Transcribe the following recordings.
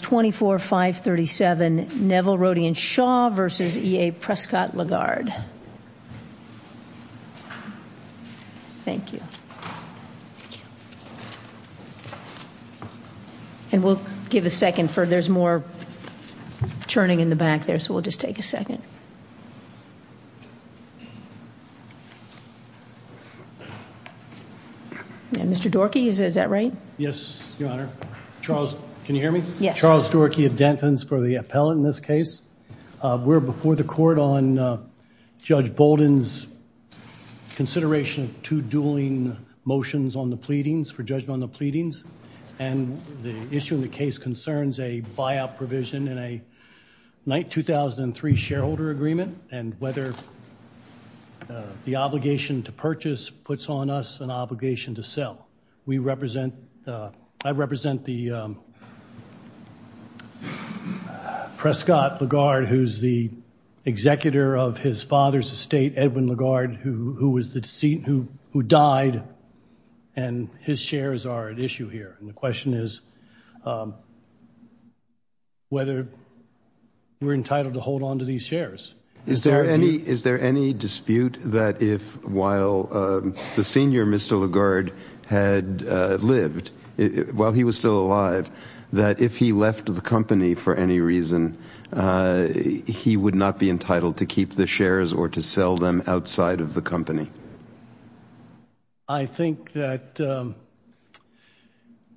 24-537 Neville, Rodie and Shaw v. E.A. Prescott-Legard This is Charles Doherty of Dentons for the appellate in this case. We're before the court on Judge Bolden's consideration of two dueling motions on the pleadings for judgment on the pleadings and the issue in the case concerns a buyout provision in a Knight 2003 shareholder agreement and whether the obligation to purchase puts on us an obligation to sell. We represent, I represent the Prescott-Legard, who's the executor of his father's estate, Edwin Legard, who, who was the deceased, who, who died and his shares are at issue here. And the question is whether we're entitled to hold on to these shares. Is there any, is there any dispute that if while the senior Mr. Legard had lived, while he was still alive, that if he left the company for any reason he would not be entitled to keep the shares or to sell them outside of the company? I think that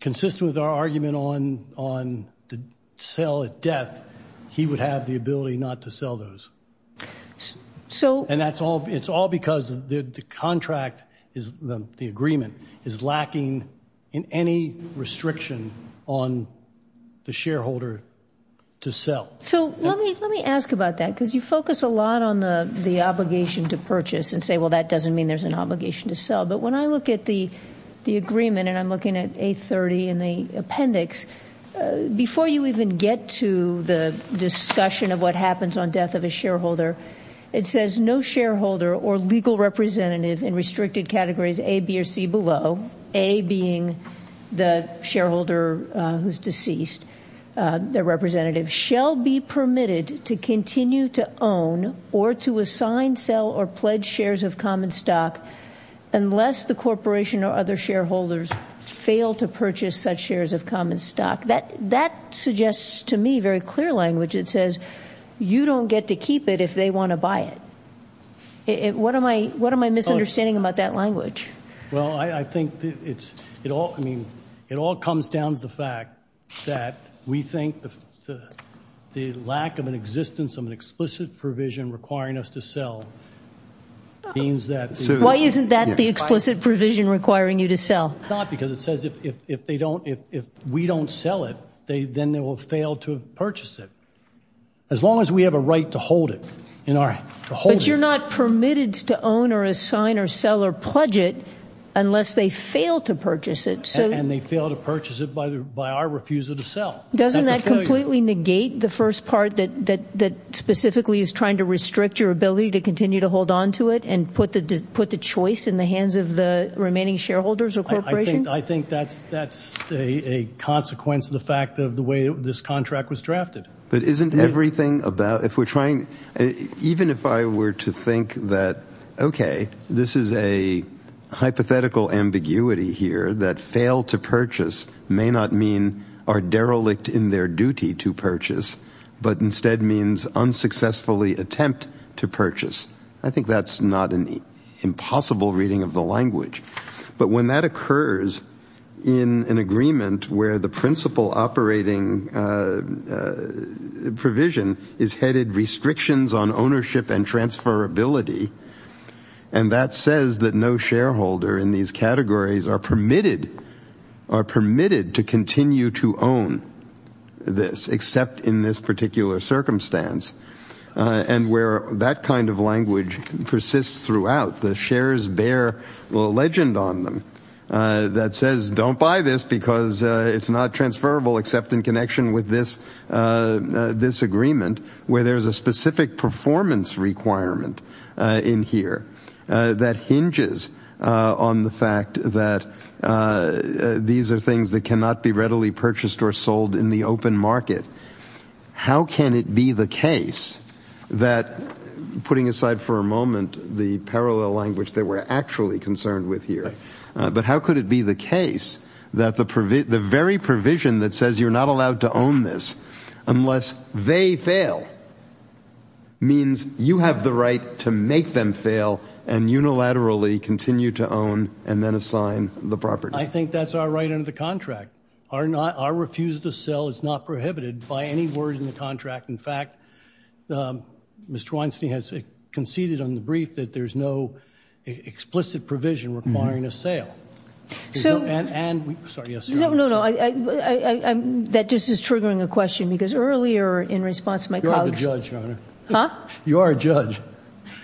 consistent with our argument on, on the sale at death, he would have the ability not to sell those. So. And that's all, it's all because the contract is, the agreement is lacking in any restriction on the shareholder to sell. So let me, let me ask about that because you focus a lot on the, the obligation to purchase and say well that doesn't mean there's an obligation to sell. But when I look at the, the agreement and I'm looking at 830 in the appendix, before you even get to the discussion of what happens on death of a shareholder, it says no shareholder or legal representative in restricted categories A, B, or C below, A being the shareholder who's deceased, their representative, shall be permitted to continue to own or to assign, sell, or pledge shares of common stock unless the corporation or other shareholders fail to purchase such shares of common stock. That, that suggests to me very clear language. It says you don't get to keep it if they want to buy it. It, what am I, what am I misunderstanding about that language? Well, I think it's, it all, I mean, it all comes down to the fact that we think the, the lack of an existence of an explicit provision requiring us to sell means that. Why isn't that the explicit provision requiring you to sell? Not because it says if, if they don't, if we don't sell it, they, then they will fail to purchase it. As long as we have a right to hold it in our, to hold it. But you're not permitted to own or assign or sell or pledge it unless they fail to purchase it. So. And they fail to purchase it by the, by our refusal to sell. Doesn't that completely negate the first part that, that, that specifically is trying to restrict your ability to continue to hold on to it and put the, put the choice in the hands of the remaining shareholders or corporation? I think, I think that's, that's a, a consequence of the fact of the way this contract was drafted. But isn't everything about, if we're trying, even if I were to think that, okay, this is a hypothetical ambiguity here that fail to purchase may not mean are derelict in their duty to purchase, but instead means unsuccessfully attempt to purchase. I think that's not an impossible reading of the language. But when that occurs in an agreement where the principal operating provision is headed restrictions on ownership and transferability, and that says that no shareholder in these categories are permitted, are permitted to continue to own this except in this particular circumstance, and where that kind of language persists throughout, the shares bear a legend on them that says don't buy this because it's not transferable except in connection with this, this agreement where there's a specific performance requirement in here that hinges on the fact that these are things that cannot be readily purchased or sold in the open market. How can it be the case that, putting aside for a moment the parallel language that we're actually concerned with here, but how could it be the case that the very provision that says you're not allowed to own this unless they fail means you have the right to make them fail and unilaterally continue to own and then assign the property? I think that's our right under the contract. Our refusal to sell is not prohibited by any word in the contract. In fact, Mr. Weinstein has conceded on the brief that there's no explicit provision requiring a sale. So, no, no, that just is triggering a question because earlier in response to my colleagues, you are a judge.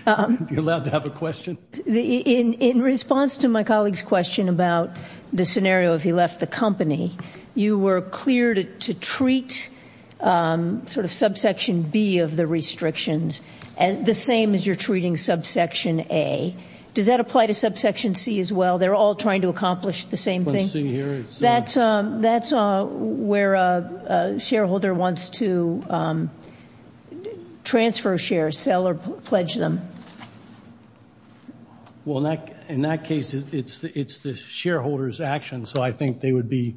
You're allowed to have a question. In response to my colleague's question about the scenario if he left the company, you were clear to treat sort of subsection B of the restrictions the same as you're treating subsection A. Does that apply to subsection C as well? They're all trying to accomplish the same thing. That's where a shareholder wants to transfer shares, sell or pledge them. Well, in that case, it's the shareholder's action. So, I think they would be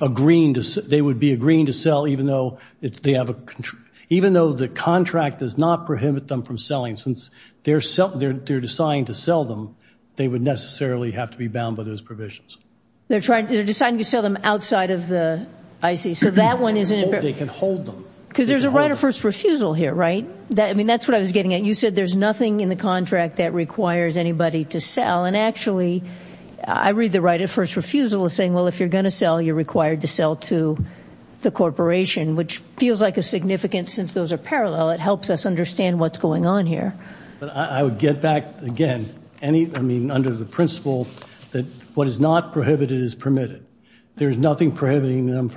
agreeing to sell even though the contract does not prohibit them from selling since they're deciding to sell them. They would necessarily have to be bound by those provisions. They're trying to decide to sell them outside of the IC. So, that one isn't- They can hold them. Because there's a right of first refusal here, right? I mean, that's what I was getting at. You said there's nothing in the contract that requires anybody to sell. And actually, I read the right of first refusal as saying, well, if you're going to sell, you're required to sell to the corporation, which feels like a significance since those are parallel. It helps us understand what's going on here. But I would get back, again, any, I mean, under the principle that what is not prohibited is permitted. There is nothing prohibiting them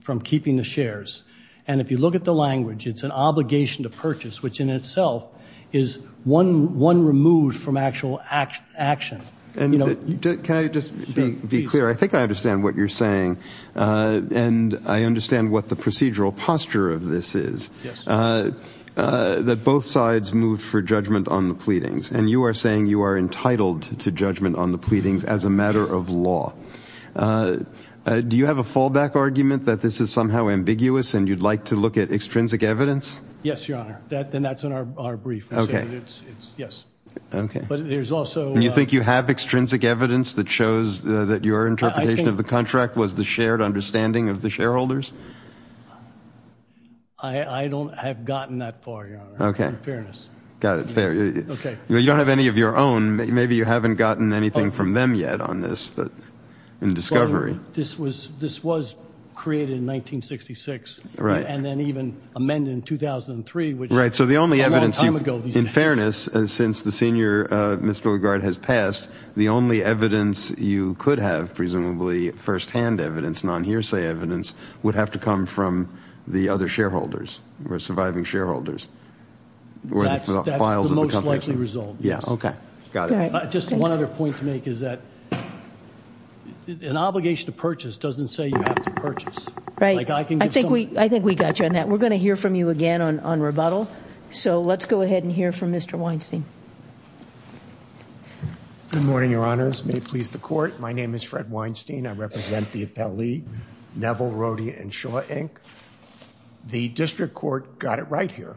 from keeping the shares. And if you look at the language, it's an obligation to purchase, which in itself is one removed from actual action. Can I just be clear? I think I understand what you're saying. And I understand what the procedural posture of this is. That both sides moved for judgment on the pleadings. And you are saying you are entitled to judgment on the pleadings as a matter of law. Do you have a fallback argument that this is somehow ambiguous and you'd like to look at extrinsic evidence? Yes, Your Honor. And that's in our brief. Yes. Okay. Do you think you have extrinsic evidence that shows that your interpretation of the contract was the shared understanding of the shareholders? I don't have gotten that far, Your Honor. Okay. In fairness. Got it. You don't have any of your own. Maybe you haven't gotten anything from them yet on this. In discovery. This was created in 1966. And then even amended in 2003, which was a long time ago. In fairness, since the senior misbehavior guard has passed, the only evidence you could have, presumably firsthand evidence, non-hearsay evidence, would have to come from the other shareholders, or surviving shareholders. That's the most likely result. Yeah. Okay. Got it. Just one other point to make is that an obligation to purchase doesn't say you have to purchase. Right. I think we got you on that. We're going to hear from you again on rebuttal. So let's go ahead and hear from Mr. Weinstein. Good morning, Your Honors. May it please the Court. My name is Fred Weinstein. I represent the appellee, Neville, Rodia, and Shaw, Inc. The district court got it right here.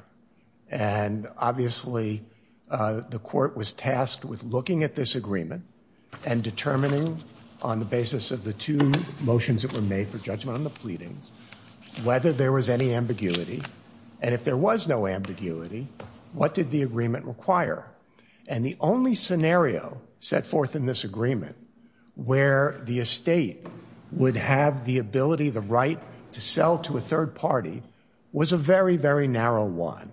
And obviously, the court was tasked with looking at this agreement and determining on the basis of the two motions that were made for judgment on the pleadings, whether there was any ambiguity. And if there was no ambiguity, what did the agreement require? And the only scenario set forth in this agreement where the estate would have the ability, the right to sell to a third party was a very, very narrow one.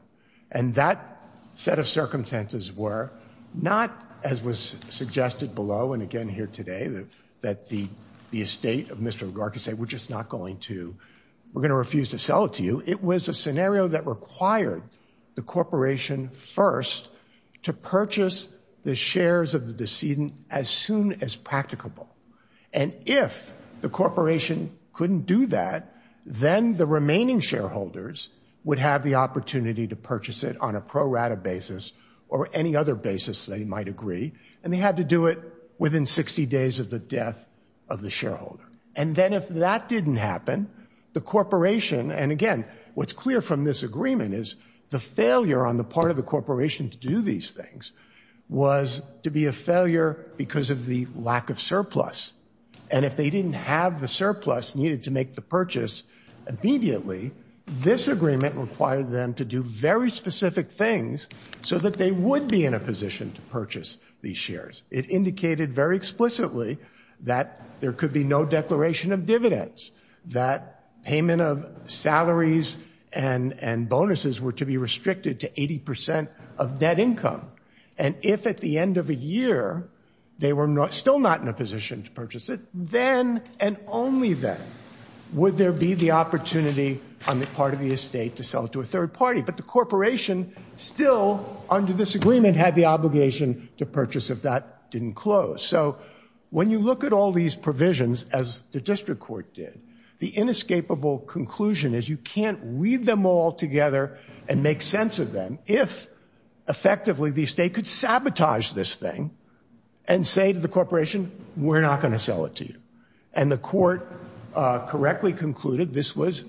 And that set of circumstances were not, as was suggested below and again here today, that the estate of Mr. McGurk would say, we're just not going to, we're going to refuse to sell it to you. It was a scenario that required the corporation first to purchase the shares of the decedent as soon as practicable. And if the corporation couldn't do that, then the remaining shareholders would have the opportunity to purchase it on a pro rata basis or any other basis they might agree. And they had to do it within 60 days of the death of the shareholder. And then if that didn't happen, the corporation, and again, what's clear from this agreement is the failure on the part of the corporation to do these things was to be a failure because of the lack of surplus. And if they didn't have the surplus needed to make the purchase immediately, this agreement required them to do very specific things so that they would be in a position to purchase these shares. It indicated very explicitly that there could be no declaration of dividends, that payment of salaries and bonuses were to be restricted to 80% of debt income. And if at the end of a year, they were still not in a position to purchase it, then and only then would there be the opportunity on the part of the estate to sell it to a third party. But the corporation still, under this agreement, had the obligation to purchase if that didn't close. So when you look at all these provisions, as the district court did, the inescapable conclusion is you can't read them all together and make sense of them if effectively the estate could sabotage this thing and say to the corporation, we're not going to sell it to you. And the court correctly concluded this was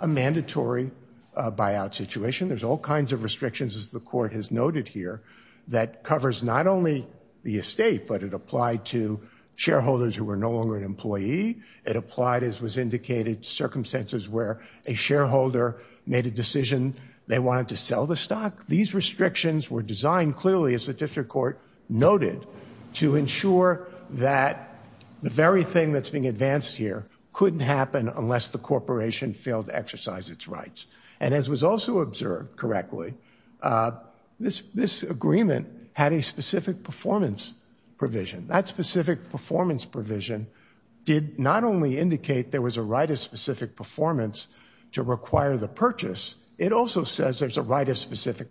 a mandatory buyout situation. There's all kinds of restrictions, as the court has noted here, that covers not only the estate, but it applied to shareholders who were no longer an employee. It applied, as was indicated, circumstances where a shareholder made a decision they wanted to sell the stock. These restrictions were designed clearly, as the district court noted, to ensure that the very thing that's being advanced here couldn't happen unless the corporation failed to exercise its rights. And as was also observed correctly, this agreement had a specific performance provision. That specific performance provision did not only indicate there was a right of specific performance to require the purchase, it also says there's a right of specific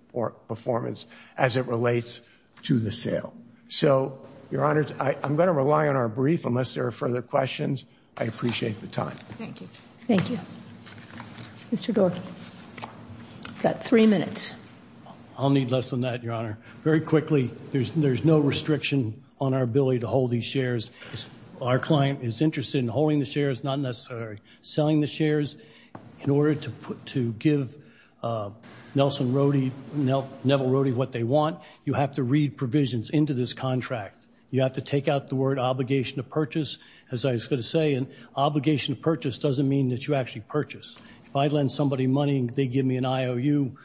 performance as it relates to the sale. So, Your Honor, I'm going to rely on our brief unless there are further questions. I appreciate the time. Thank you. Thank you. Mr. Dorkey, you've got three minutes. I'll need less than that, Your Honor. Very quickly, there's no restriction on our ability to hold these shares. Our client is interested in holding the shares, not necessarily selling the shares. In order to give Nelson Rode, Neville Rode, what they want, you have to read provisions into this contract. You have to take out the word obligation to purchase, as I was going to say, and obligation to purchase doesn't mean that you actually purchase. If I lend somebody money and they give me an IOU,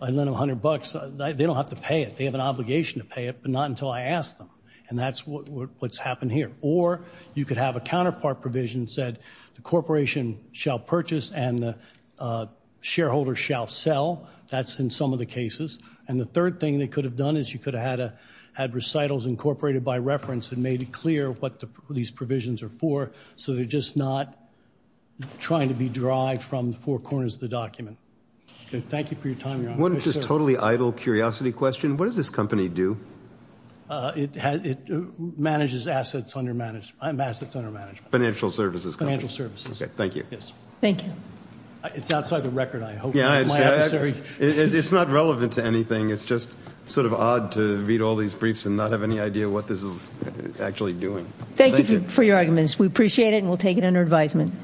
I lend them a hundred bucks, they don't have to pay it. They have an obligation to pay it, but not until I ask them. And that's what's happened here. Or you could have a counterpart provision that said, the corporation shall purchase and the shareholder shall sell. That's in some of the cases. And the third thing they could have done is you could have had recitals incorporated by reference and made it clear what these provisions are for, so they're just not trying to be derived from the four corners of the document. Thank you for your time, Your Honor. One just totally idle curiosity question. What does this company do? It manages assets under management. Financial services. Financial services. Okay, thank you. Yes, thank you. It's outside the record, I hope. Yeah, it's not relevant to anything. It's just sort of odd to read all these briefs and not have any idea what this is actually doing. Thank you for your arguments. We appreciate it and we'll take it under advisement.